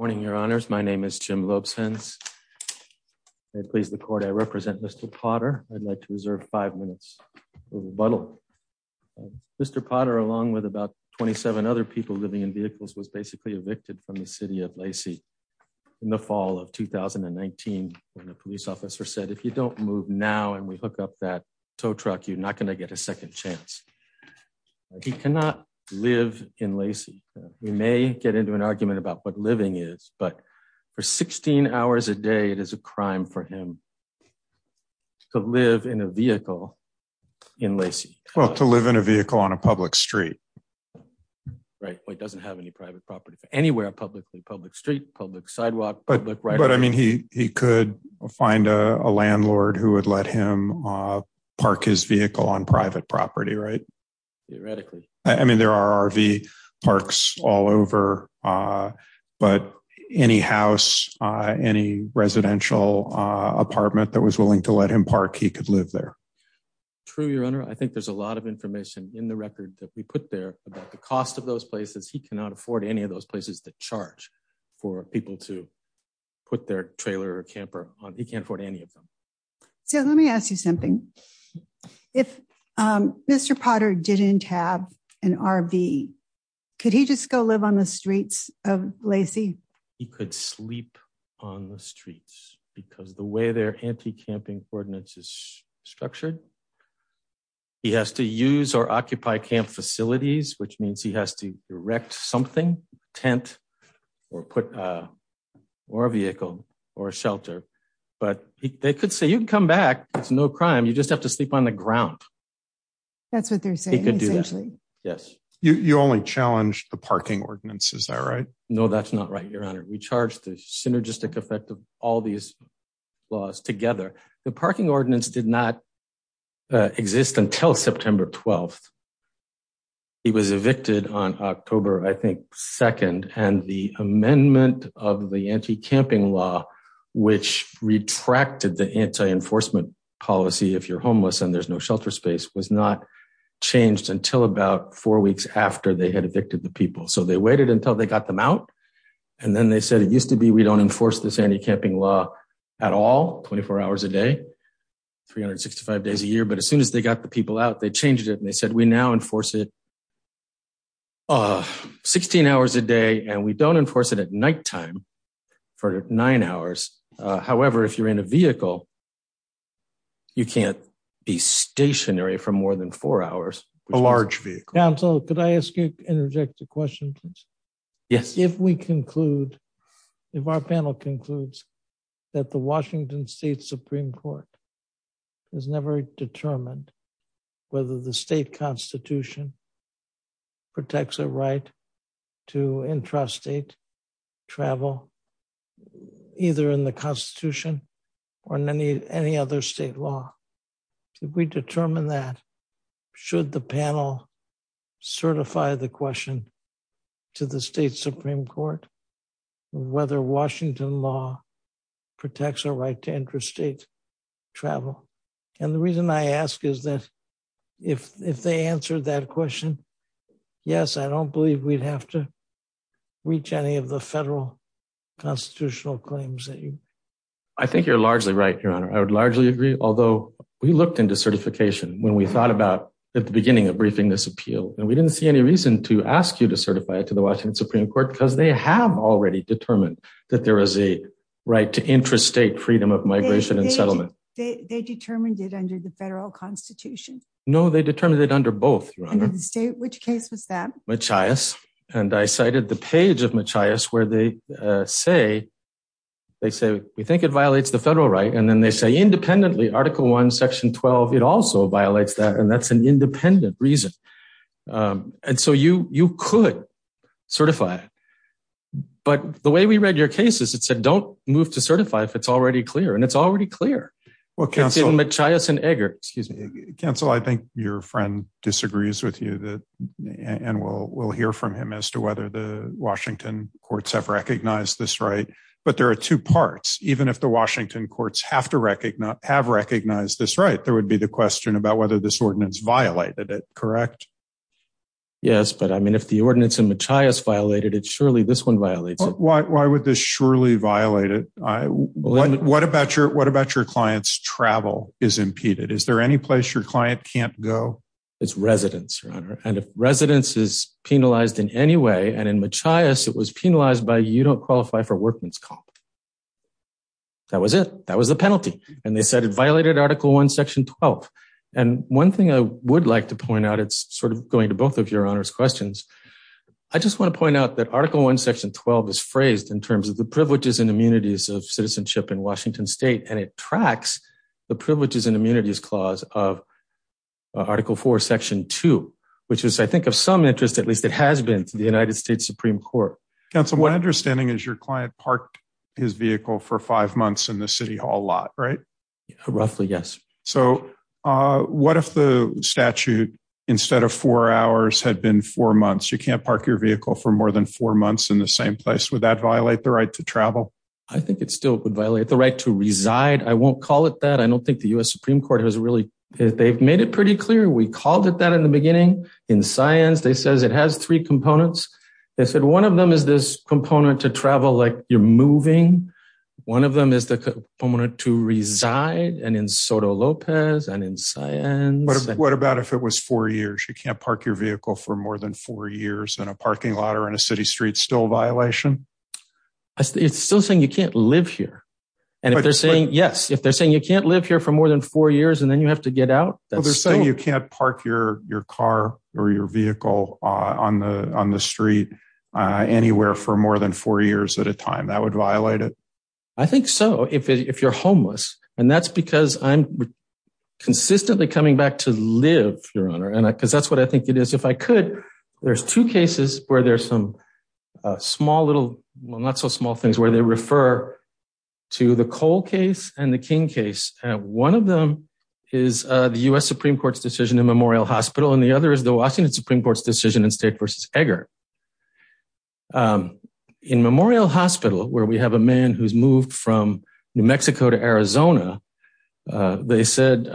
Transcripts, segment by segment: Good morning, your honors. My name is Jim Lobson's. Please the court I represent Mr. Potter, I'd like to reserve five minutes, but Mr. Potter along with about 27 other people living in vehicles was basically evicted from the city of Lacey. In the fall of 2019, when the city of Lacey was being evicted from the city of Lacey, the mayor of the city of Lacey said, if you don't move now and we hook up that tow truck, you're not going to get a second chance. He cannot live in Lacey. We may get into an argument about what living is, but for 16 hours a day, it is a crime for him to live in a vehicle in Lacey. Well, to live in a vehicle on a public street, right? It doesn't have any private property for anywhere publicly public street, public sidewalk, but I mean, he could find a landlord who would let him park his vehicle on private property, right? Theoretically, I mean, there are RV parks all over. But any house, any residential apartment that was willing to let him park, he could live there. True, your honor. I think there's a lot of information in the record that we put there about the cost of those places. He cannot afford any of those places that charge for people to put their trailer or camper on. He can't afford any of them. So let me ask you something. If Mr. Potter didn't have an RV, could he just go live on the streets of Lacey? He could sleep on the streets because the way their anti-camping ordinance is structured, he has to use or occupy camp facilities, which means he has to erect something, tent, or put a vehicle or shelter. But they could say, you can come back. It's no crime. You just have to sleep on the ground. That's what they're saying, essentially. Yes. You only challenged the parking ordinance. Is that right? No, that's not right, your honor. We charged the synergistic effect of all these laws together. The parking ordinance did not exist until September 12th. It was evicted on October, I think, 2nd. And the amendment of the anti-camping law, which retracted the anti-enforcement policy if you're homeless and there's no shelter space, was not changed until about four weeks after they had evicted the people. So they waited until they got them out. And then they said, it used to be we don't enforce this anti-camping law at all, 24 hours a day, 365 days a year. But as soon as they got the people out, they changed it. And they said, we now enforce it 16 hours a day and we don't enforce it at nighttime for nine hours. However, if you're in a vehicle, you can't be stationary for more than four hours. A large vehicle. Counsel, could I ask you an interjected question, please? Yes. If we conclude, if our panel concludes that the Washington State Supreme Court has never determined whether the state constitution protects a right to intrastate travel, either in the constitution or in any other state law. If we determine that, should the panel certify the question to the state Supreme Court, whether Washington law protects a right to intrastate travel? And the reason I ask is that if they answered that question, yes, I don't believe we'd have to reach any of the federal constitutional claims. I think you're largely right, Your Honor. I would largely agree. Although we looked into certification when we thought about at the beginning of briefing this appeal, and we didn't see any reason to ask you to certify it to the Washington Supreme Court because they have already determined that there is a right to intrastate freedom of migration and settlement. They determined it under the federal constitution. No, they determined it under both. Which case was that? And I cited the page of Machias where they say, they say, we think it violates the federal right. And then they say independently, article one, section 12, it also violates that. And that's an independent reason. And so you, you could certify it. But the way we read your cases, it said, don't move to certify if it's already clear. And it's already clear. Machias and Eggert, excuse me. Counsel, I think your friend disagrees with you and we'll hear from him as to whether the Washington courts have recognized this right. But there are two parts. Even if the Washington courts have recognized this right, there would be the question about whether this ordinance violated it, correct? Yes, but I mean, if the ordinance in Machias violated it, surely this one violates it. Why would this surely violate it? What about your, what about your client's travel is impeded? Is there any place your client can't go? It's residence, your honor. And if residence is penalized in any way, and in Machias, it was penalized by you don't qualify for workman's comp. That was it. That was the penalty. And they said it violated article one, section 12. And one thing I would like to point out, it's sort of going to both of your honors questions. I just want to point out that article one, section 12 is phrased in terms of the privileges and immunities of citizenship in Washington state. And it tracks the privileges and immunities clause of article four, section two, which is I think of some interest, at least it has been to the United States Supreme Court. Counsel, what understanding is your client parked his vehicle for five months in the city hall lot, right? Roughly, yes. So what if the statute, instead of four hours had been four months, you can't park your vehicle for more than four months in the same place. Would that violate the right to travel? I think it still would violate the right to reside. I won't call it that. I don't think the U.S. Supreme Court has really, they've made it pretty clear. We called it that in the beginning. In science, they says it has three components. They said one of them is this component to travel, like you're moving. One of them is the component to reside, and in Soto Lopez, and in science. What about if it was four years? You can't park your vehicle for more than four years in a parking lot or in a city street. Still a violation? It's still saying you can't live here. And if they're saying, yes, if they're saying you can't live here for more than four years and then you have to get out. They're saying you can't park your car or your vehicle on the street anywhere for more than four years at a time. That would violate it? I think so, if you're homeless. And that's because I'm consistently coming back to live, Your Honor, because that's what I think it is. If I could, there's two cases where there's some small little, well, not so small things where they refer to the Cole case and the King case. One of them is the U.S. Supreme Court's decision in Memorial Hospital, and the other is the Washington Supreme Court's decision in State v. Egger. In Memorial Hospital, where we have a man who's moved from New Mexico to Arizona, they said,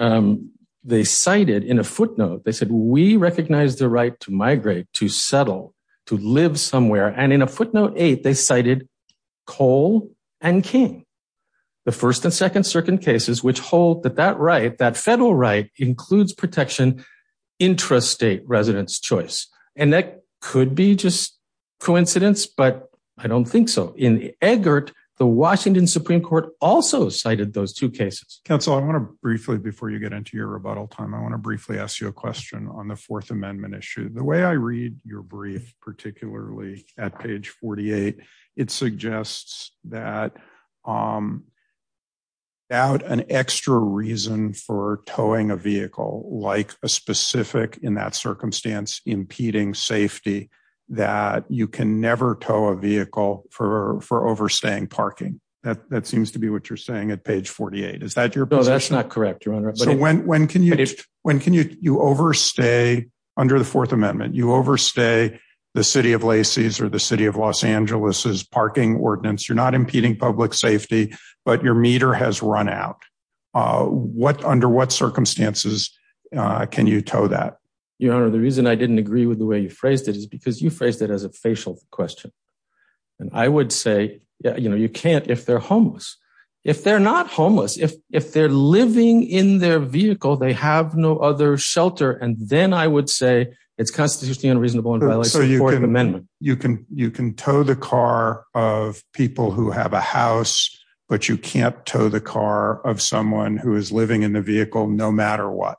they cited in a footnote, they said, we recognize the right to migrate, to settle, to live somewhere. And in a footnote eight, they cited Cole and King, the first and second circuit cases, which hold that that right, that federal right includes protection, intrastate residence choice. And that could be just coincidence, but I don't think so. In Eggert, the Washington Supreme Court also cited those two cases. Counsel, I want to briefly, before you get into your rebuttal time, I want to briefly ask you a question on the Fourth Amendment issue. The way I read your brief, particularly at page 48, it suggests that without an extra reason for towing a vehicle, like a specific, in that circumstance, impeding safety, that you can never tow a vehicle for overstaying parking. That seems to be what you're saying at page 48. Is that your position? No, that's not correct, Your Honor. So when can you overstay, under the Fourth Amendment, you overstay the city of Lacey's or the city of Los Angeles's parking ordinance? You're not impeding public safety, but your meter has run out. Under what circumstances can you tow that? Your Honor, the reason I didn't agree with the way you phrased it is because you phrased it as a facial question. I would say you can't if they're homeless. If they're not homeless, if they're living in their vehicle, they have no other shelter, and then I would say it's constitutionally unreasonable in violation of the Fourth Amendment. So you can tow the car of people who have a house, but you can't tow the car of someone who is living in the vehicle no matter what?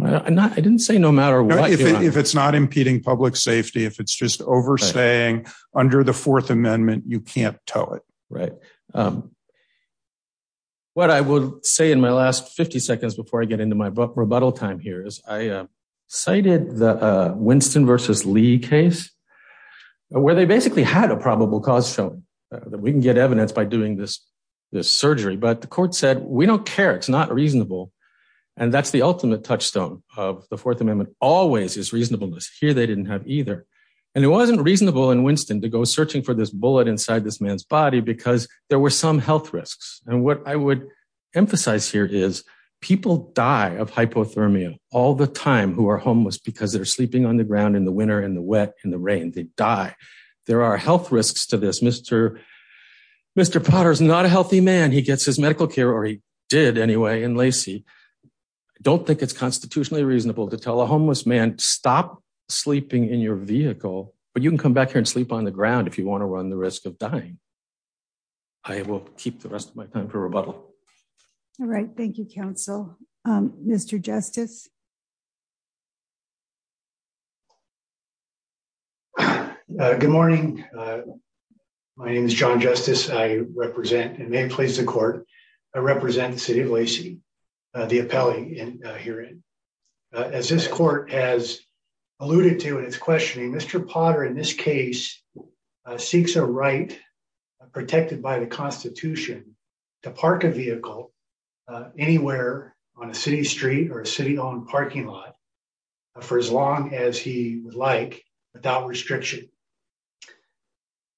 I didn't say no matter what, Your Honor. If it's not impeding public safety, if it's just overstaying under the Fourth Amendment, you can't tow it. Right. What I will say in my last 50 seconds before I get into my rebuttal time here is I cited the Winston v. Lee case where they basically had a probable cause shown. We can get evidence by doing this surgery, but the court said, we don't care. It's not reasonable. And that's the ultimate touchstone of the Fourth Amendment, always is reasonableness. Here they didn't have either. And it wasn't reasonable in Winston to go searching for this bullet inside this man's body because there were some health risks. And what I would emphasize here is people die of hypothermia all the time who are homeless because they're sleeping on the ground in the winter, in the wet, in the rain. They die. There are health risks to this. Mr. Potter is not a healthy man. He gets his medical care, or he did anyway, in Lacey. I don't think it's constitutionally reasonable to tell a homeless man, stop sleeping in your vehicle. But you can come back here and sleep on the ground if you want to run the risk of dying. I will keep the rest of my time for rebuttal. All right. Thank you, counsel. Mr. Justice. Good morning. My name is john justice I represent and may please the court. I represent the city of Lacey. The appellee in here. As this court has alluded to and it's questioning Mr Potter in this case. seeks a right protected by the Constitution to park a vehicle anywhere on a city street or a city on parking lot for as long as he would like without restriction.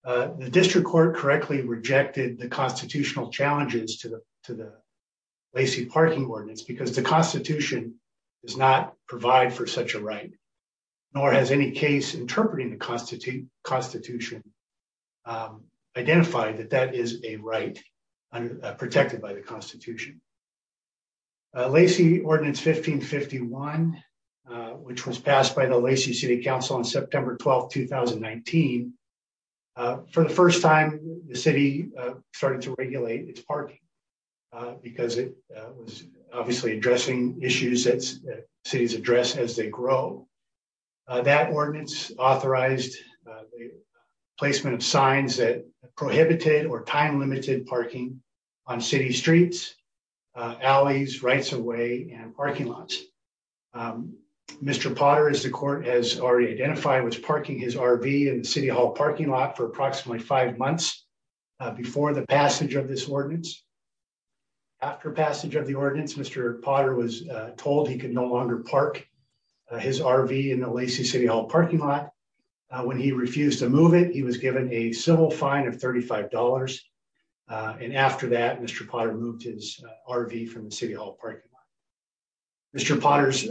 The district court correctly rejected the constitutional challenges to the, to the Lacey parking ordinance because the Constitution is not provide for such a right, nor has any case interpreting the Constitution, Constitution, identified that that is a right, protected by the Constitution. Lacey ordinance 1551, which was passed by the Lacey city council on September 12 2019. For the first time, the city started to regulate its parking, because it was obviously addressing issues that cities address as they grow that ordinance authorized placement of signs that prohibited or time limited parking on city streets. Alleys rights away and parking lots. Mr Potter is the court has already identified was parking his RV in the city hall parking lot for approximately five months before the passage of this ordinance. After passage of the ordinance Mr Potter was told he could no longer park his RV in the Lacey city hall parking lot. When he refused to move it he was given a civil fine of $35. And after that Mr Potter moved his RV from the city hall parking. Mr Potter's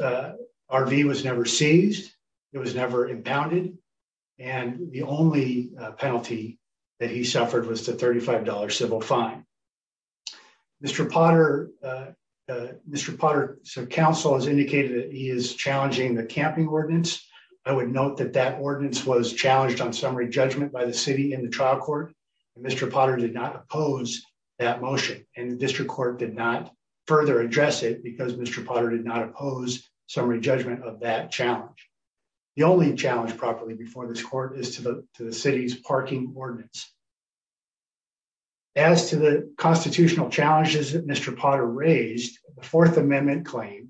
RV was never seized. It was never impounded. And the only penalty that he suffered was the $35 civil fine. Mr Potter. Mr Potter, so council has indicated that he is challenging the camping ordinance, I would note that that ordinance was challenged on summary judgment by the city in the trial court. Mr Potter did not oppose that motion, and the district court did not further address it because Mr Potter did not oppose summary judgment of that challenge. The only challenge properly before this court is to the city's parking ordinance. As to the constitutional challenges that Mr Potter raised the Fourth Amendment claim.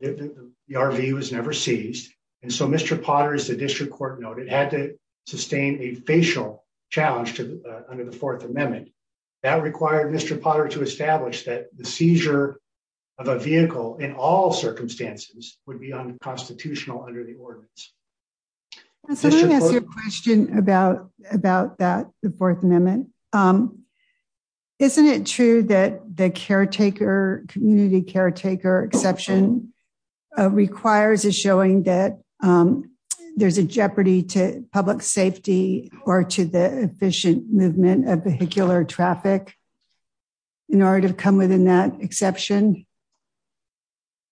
The RV was never seized. And so Mr Potter is the district court noted had to sustain a facial challenge to under the Fourth Amendment that required Mr Potter to establish that the seizure of a vehicle in all circumstances would be unconstitutional under the ordinance. Question about, about that, the Fourth Amendment. Isn't it true that the caretaker community caretaker exception requires is showing that there's a jeopardy to public safety, or to the efficient movement of vehicular traffic in order to come within that exception.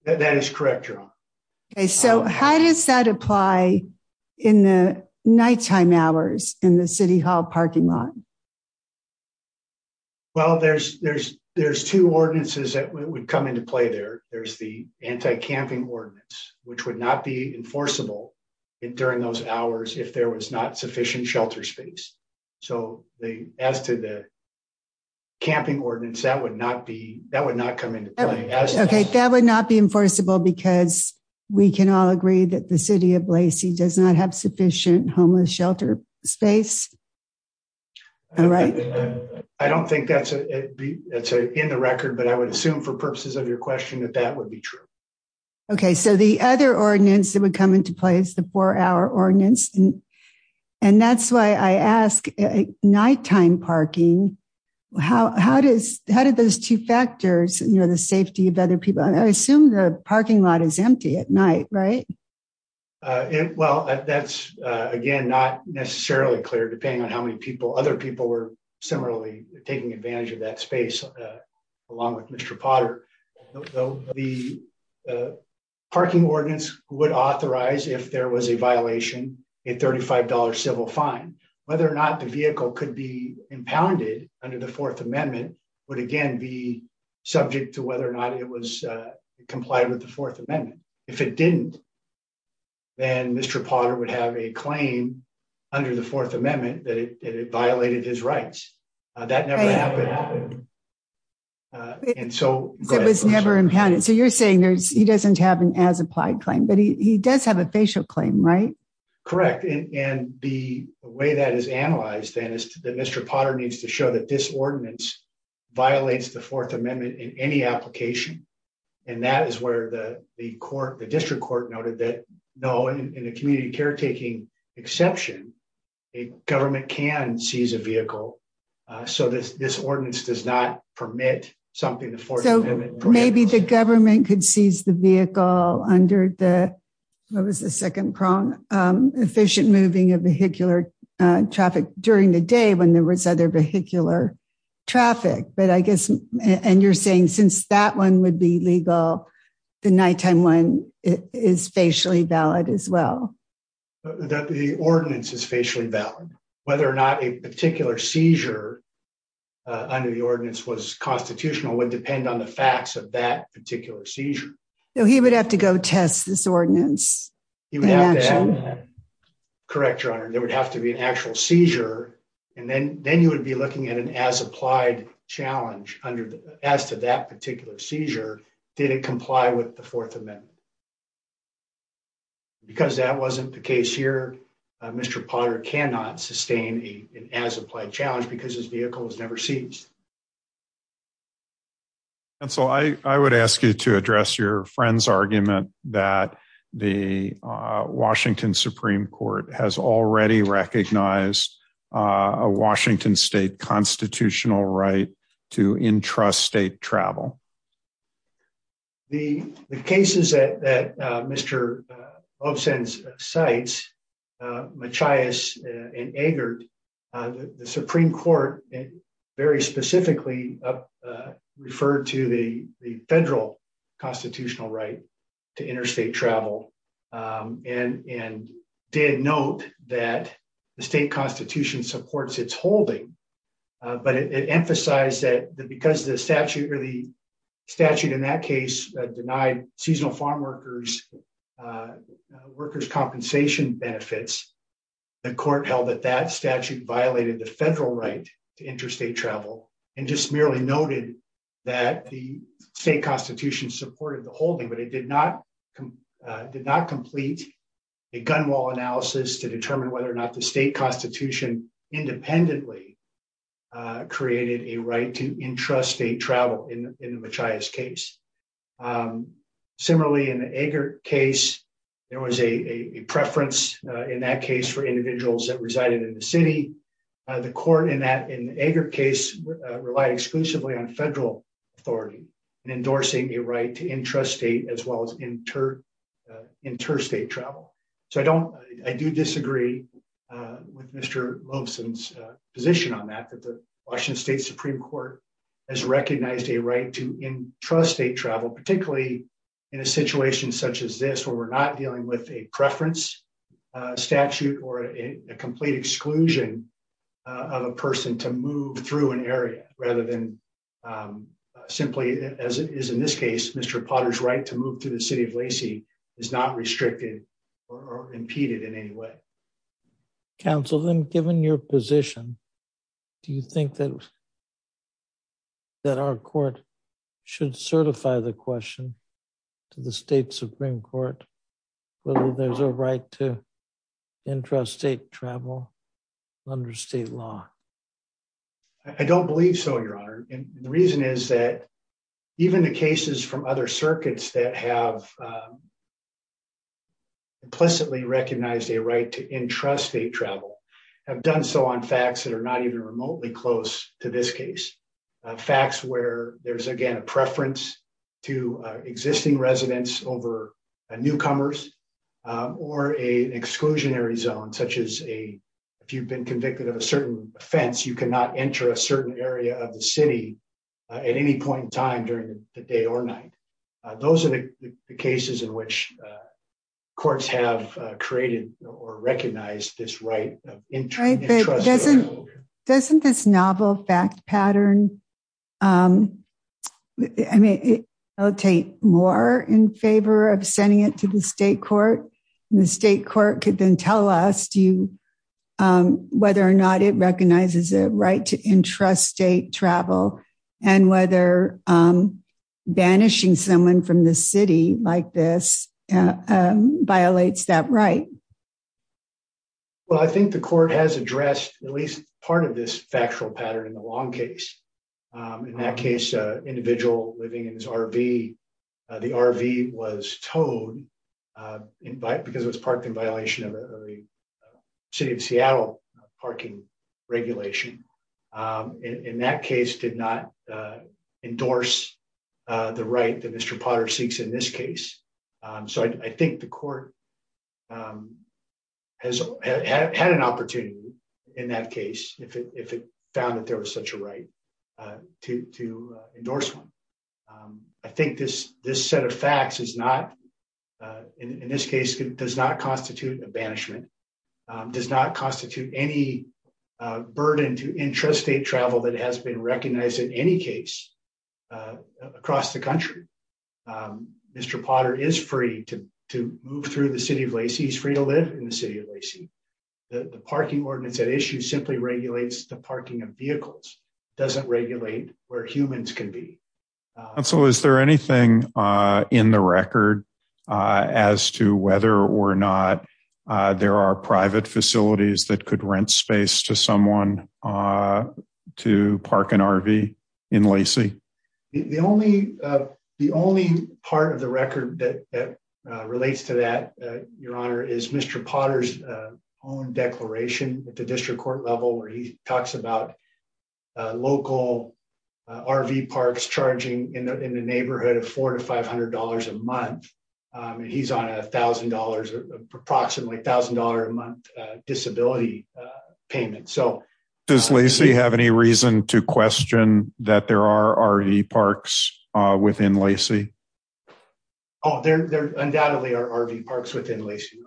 That is correct. So how does that apply in the nighttime hours in the city hall parking lot. Well there's there's there's two ordinances that would come into play there, there's the anti camping ordinance, which would not be enforceable during those hours if there was not sufficient shelter space. So, as to the camping ordinance that would not be that would not come into play. Okay, that would not be enforceable because we can all agree that the city of Lacey does not have sufficient homeless shelter space. Right. I don't think that's a. It's a in the record but I would assume for purposes of your question that that would be true. Okay, so the other ordinance that would come into place the four hour ordinance. And that's why I asked nighttime parking. How, how does, how did those two factors, you know the safety of other people and I assume the parking lot is empty at night, right. Well, that's, again, not necessarily clear depending on how many people other people were similarly taking advantage of that space. Along with Mr. Potter. The parking ordinance would authorize if there was a violation in $35 civil fine, whether or not the vehicle could be impounded under the Fourth Amendment would again be subject to whether or not it was complied with the Fourth Amendment. If it didn't. And Mr. Potter would have a claim under the Fourth Amendment that it violated his rights that never happened. And so, it was never impounded so you're saying there's he doesn't have an as applied claim but he does have a facial claim right. Correct. And the way that is analyzed and is that Mr Potter needs to show that this ordinance violates the Fourth Amendment in any application. And that is where the court the district court noted that no in a community caretaking exception, a government can seize a vehicle. So this this ordinance does not permit something. Maybe the government could seize the vehicle under the second prong efficient moving of vehicular traffic during the day when there was other vehicular traffic but I guess, and you're saying since that one would be legal. The nighttime one is facially valid as well. The ordinance is facially valid, whether or not a particular seizure under the ordinance was constitutional would depend on the facts of that particular seizure. He would have to go test this ordinance. Correct your honor, there would have to be an actual seizure, and then, then you would be looking at an as applied challenge under the as to that particular seizure. Did it comply with the Fourth Amendment. Because that wasn't the case here. Mr Potter cannot sustain a as applied challenge because his vehicle was never seized. And so I would ask you to address your friends argument that the Washington Supreme Court has already recognized a Washington State constitutional right to intrastate travel. The cases that Mr. statute in that case denied seasonal farm workers, workers compensation benefits. The court held that that statute violated the federal right to interstate travel, and just merely noted that the state constitution supported the holding but it did not did not complete a gunwale analysis to determine whether or not the state constitution independently created a right to intrastate travel in the highest case. Similarly, in the case, there was a preference in that case for individuals that resided in the city. The court in that in the case relied exclusively on federal authority and endorsing a right to intrastate as well as inter interstate travel. So I don't, I do disagree with Mr. position on that that the Washington State Supreme Court has recognized a right to intrastate travel, particularly in a situation such as this where we're not dealing with a preference statute or a complete exclusion of a person to move through an area, rather than simply, as it is in this case, Mr. Potter's right to move to the city of Lacey is not restricted or impeded in any way. Council them given your position. Do you think that that our court should certify the question to the state Supreme Court, whether there's a right to intrastate travel under state law. I don't believe so, Your Honor, and the reason is that even the cases from other circuits that have implicitly recognized a right to intrastate travel have done so on facts that are not even remotely close to this case facts where there's again a preference to existing residents over newcomers, or a exclusionary zone such as a. If you've been convicted of a certain offense you cannot enter a certain area of the city at any point in time during the day or night. Those are the cases in which courts have created or recognize this right. Doesn't this novel fact pattern. I mean, I'll take more in favor of sending it to the state court, the state court could then tell us do you, whether or not it recognizes a right to intrastate travel, and whether banishing someone from the city like this violates that right. Well, I think the court has addressed at least part of this factual pattern in the long case. In that case, individual living in his RV. The RV was told invite because it was parked in violation of the city of Seattle parking regulation. In that case did not endorse the right to Mr Potter seeks in this case. So I think the court has had an opportunity. In that case, if it found that there was such a right to endorse one. I think this, this set of facts is not in this case does not constitute a banishment does not constitute any burden to intrastate travel that has been recognized in any case across the country. Mr Potter is free to move through the city of Lacey is free to live in the city of Lacey, the parking ordinance that issue simply regulates the parking of vehicles doesn't regulate where humans can be. So is there anything in the record as to whether or not there are private facilities that could rent space to someone to park an RV in Lacey. The only, the only part of the record that relates to that, Your Honor is Mr Potter's own declaration at the district court level where he talks about local RV parks charging in the neighborhood of four to $500 a month. He's on $1,000 approximately $1,000 a month disability payment so does Lacey have any reason to question that there are already parks within Lacey. Oh, there undoubtedly are RV parks within Lacey.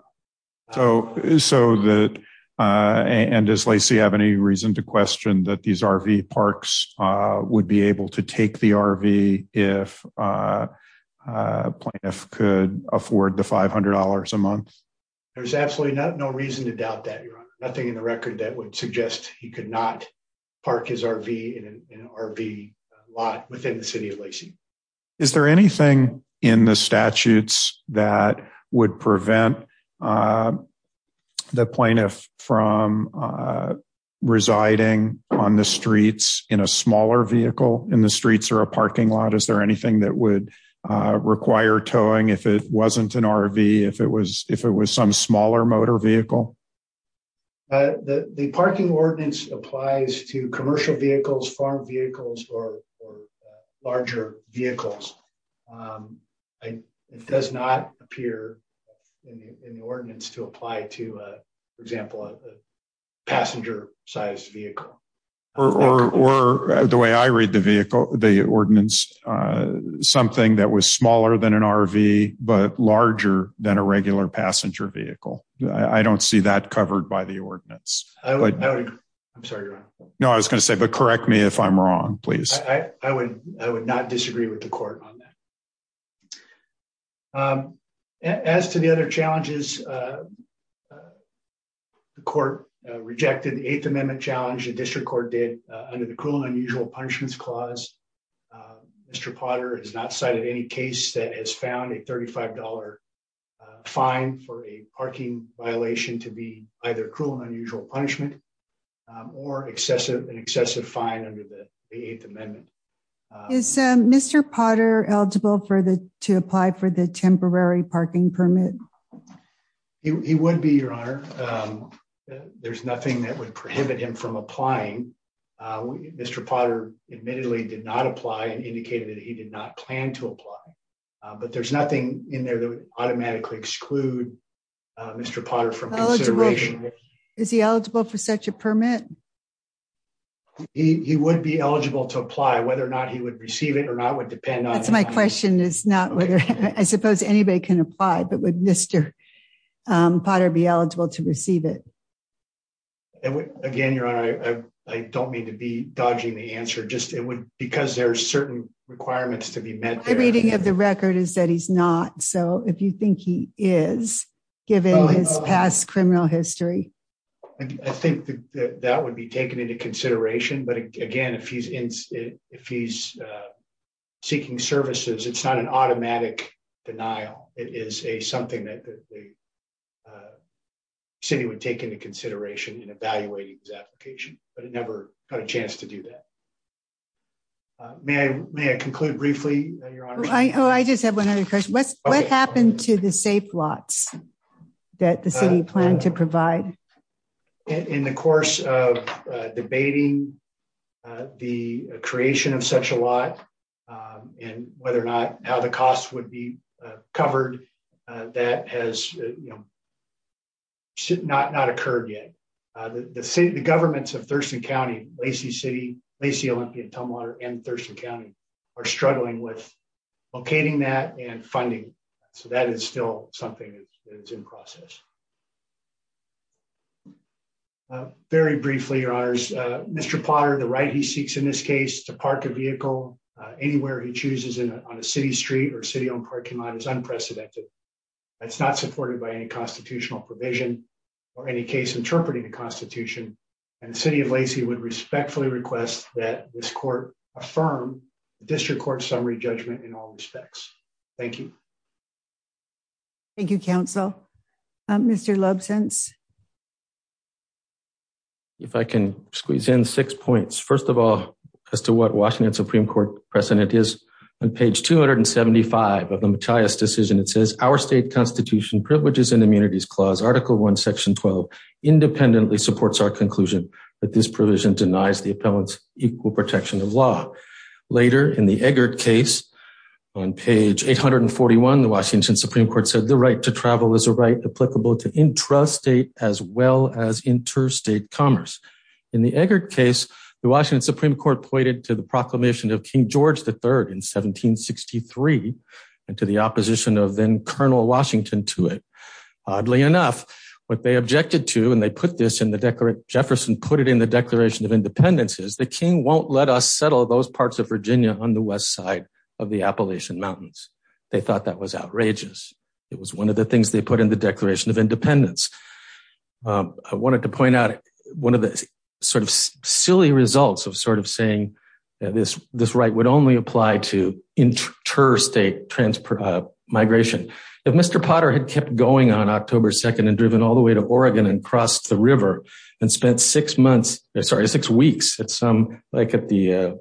So, so that. And as Lacey have any reason to question that these RV parks would be able to take the RV, if could afford the $500 a month. There's absolutely no reason to doubt that nothing in the record that would suggest he could not park his RV in an RV lot within the city of Lacey. Is there anything in the statutes that would prevent the plaintiff from residing on the streets in a smaller vehicle in the streets or a parking lot Is there anything that would require towing if it wasn't an RV if it was, if it was some smaller motor vehicle. The parking ordinance applies to commercial vehicles farm vehicles or larger vehicles. It does not appear in the ordinance to apply to, for example, passenger size vehicle, or the way I read the vehicle, the ordinance, something that was smaller than an RV, but larger than a regular passenger vehicle. I don't see that covered by the ordinance. I'm sorry. No, I was gonna say but correct me if I'm wrong, please. I would, I would not disagree with the court on that. As to the other challenges. The court rejected the eighth amendment challenge the district court did under the cruel and unusual punishments clause. Mr Potter has not cited any case that has found a $35 fine for a parking violation to be either cruel and unusual punishment or excessive and excessive fine under the eighth amendment. Is Mr Potter eligible for the to apply for the temporary parking permit. He would be your honor. There's nothing that would prohibit him from applying. Mr Potter admittedly did not apply and indicated that he did not plan to apply. But there's nothing in there that would automatically exclude Mr Potter from. Is he eligible for such a permit. He would be eligible to apply whether or not he would receive it or not would depend on my question is not whether I suppose anybody can apply but with Mr. Potter be eligible to receive it. Again, your honor, I don't mean to be dodging the answer just it would because there are certain requirements to be met the reading of the record is that he's not so if you think he is given his past criminal history. I think that would be taken into consideration but again if he's in, if he's seeking services it's not an automatic denial, it is a something that the city would take into consideration and evaluating his application, but it never got a chance to do that. May I may I conclude briefly. I just have one other question what's what happened to the safe lots that the city plan to provide in the course of debating the creation of such a lot. And whether or not how the cost would be covered. That has not not occurred yet. The city, the governments of Thurston County, Lacey City, Lacey Olympian Tumwater and Thurston County are struggling with locating that and funding. So that is still something that is in process. Very briefly, your honors. Mr Potter the right he seeks in this case to park a vehicle anywhere he chooses in on a city street or city on parking lot is unprecedented. It's not supported by any constitutional provision, or any case interpreting the Constitution, and the city of Lacey would respectfully request that this court, affirm the district court summary judgment in all respects. Thank you. Thank you, counsel. Mr love sense. If I can squeeze in six points. First of all, as to what Washington Supreme Court precedent is on page 275 of the matias decision it says our state constitution privileges and immunities clause article one section 12 independently supports our conclusion that this provision denies the appellants equal protection of law. Later in the eggert case on page 841 the Washington Supreme Court said the right to travel as a right applicable to intrastate as well as interstate commerce in the eggert case, the Washington Supreme Court said that if we do not settle the Declaration of Independence is the king won't let us settle those parts of Virginia on the west side of the Appalachian Mountains. They thought that was outrageous. It was one of the things they put in the Declaration of Independence. I wanted to point out one of the sort of silly results of sort of saying this, this right would only apply to interstate transfer migration. If Mr Potter had kept going on October 2 and driven all the way to Oregon and crossed the river and spent six months, sorry six weeks at some like at the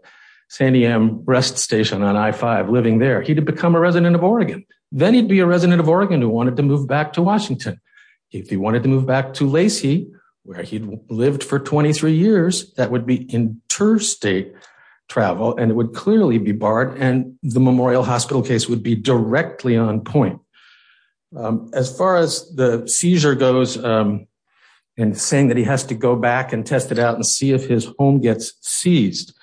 San Diem rest station on I-5 living there, he'd have become a resident of Oregon. Then he'd be a resident of Oregon who wanted to move back to Washington. If he wanted to move back to Lacey where he'd lived for 23 years, that would be interstate travel and it would clearly be barred and the memorial hospital case would be directly on point. As far as the seizure goes and saying that he has to go back and test it out and see if his home gets seized,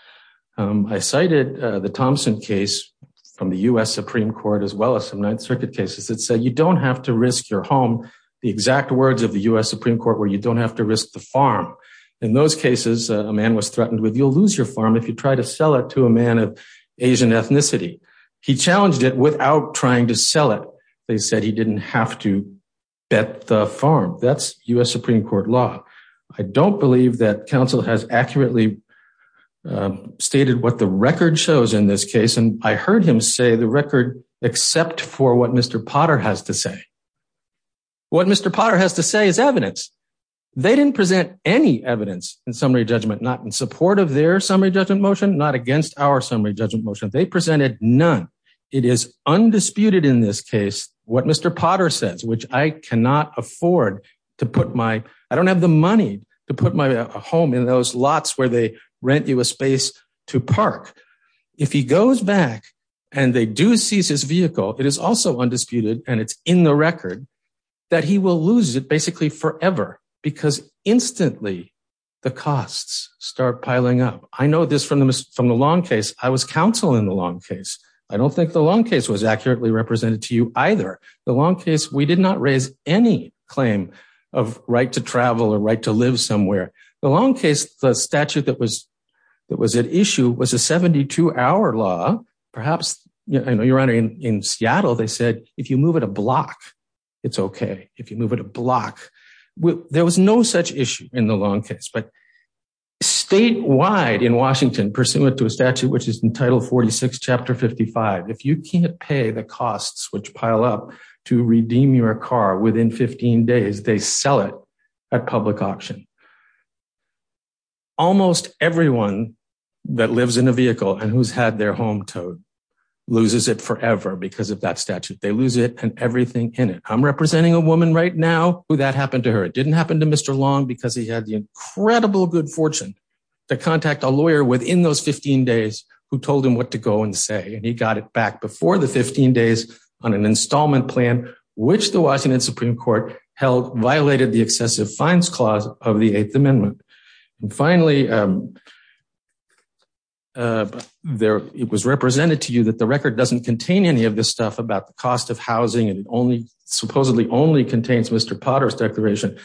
I cited the Thompson case from the U.S. Supreme Court as well as some Ninth Circuit cases that said you don't have to risk your home, the exact words of the U.S. Supreme Court where you don't have to risk the farm. In those cases, a man was threatened with you'll lose your farm if you try to sell it to a man of Asian ethnicity. He challenged it without trying to sell it. They said he didn't have to bet the farm. That's U.S. Supreme Court law. I don't believe that counsel has accurately stated what the record shows in this case and I heard him say the record except for what Mr. Potter has to say. What Mr. Potter has to say is evidence. They didn't present any evidence in summary judgment, not in support of their summary judgment motion, not against our summary judgment motion. They presented none. It is undisputed in this case what Mr. Potter says, which I cannot afford to put my, I don't have the money to put my home in those lots where they rent you a space to park. If he goes back and they do seize his vehicle, it is also undisputed and it's in the record that he will lose it basically forever because instantly the costs start piling up. I know this from the long case. I was counsel in the long case. I don't think the long case was accurately represented to you either. The long case, we did not raise any claim of right to travel or right to live somewhere. The long case, the statute that was at issue was a 72-hour law. Perhaps, I know you're wondering, in Seattle, they said if you move it a block, it's okay. If you move it a block. There was no such issue in the long case. Statewide in Washington, pursuant to a statute which is in Title 46, Chapter 55, if you can't pay the costs which pile up to redeem your car within 15 days, they sell it at public auction. Almost everyone that lives in a vehicle and who's had their home towed loses it forever because of that statute. They lose it and everything in it. I'm representing a woman right now who that happened to her. It didn't happen to Mr. Long because he had the incredible good fortune to contact a lawyer within those 15 days who told him what to go and say. He got it back before the 15 days on an installment plan which the Washington Supreme Court held violated the excessive fines clause of the Eighth Amendment. Finally, it was represented to you that the record doesn't contain any of this stuff about the cost of housing. It supposedly only contains Mr. Potter's declaration.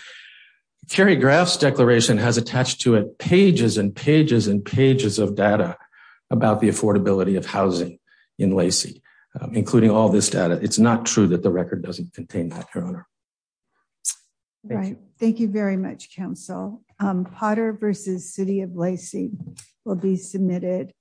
Kerry Graff's declaration has attached to it pages and pages and pages of data about the affordability of housing in Lacey, including all this data. It's not true that the record doesn't contain that, Your Honor. Right. Thank you very much Council Potter versus city of Lacey will be submitted.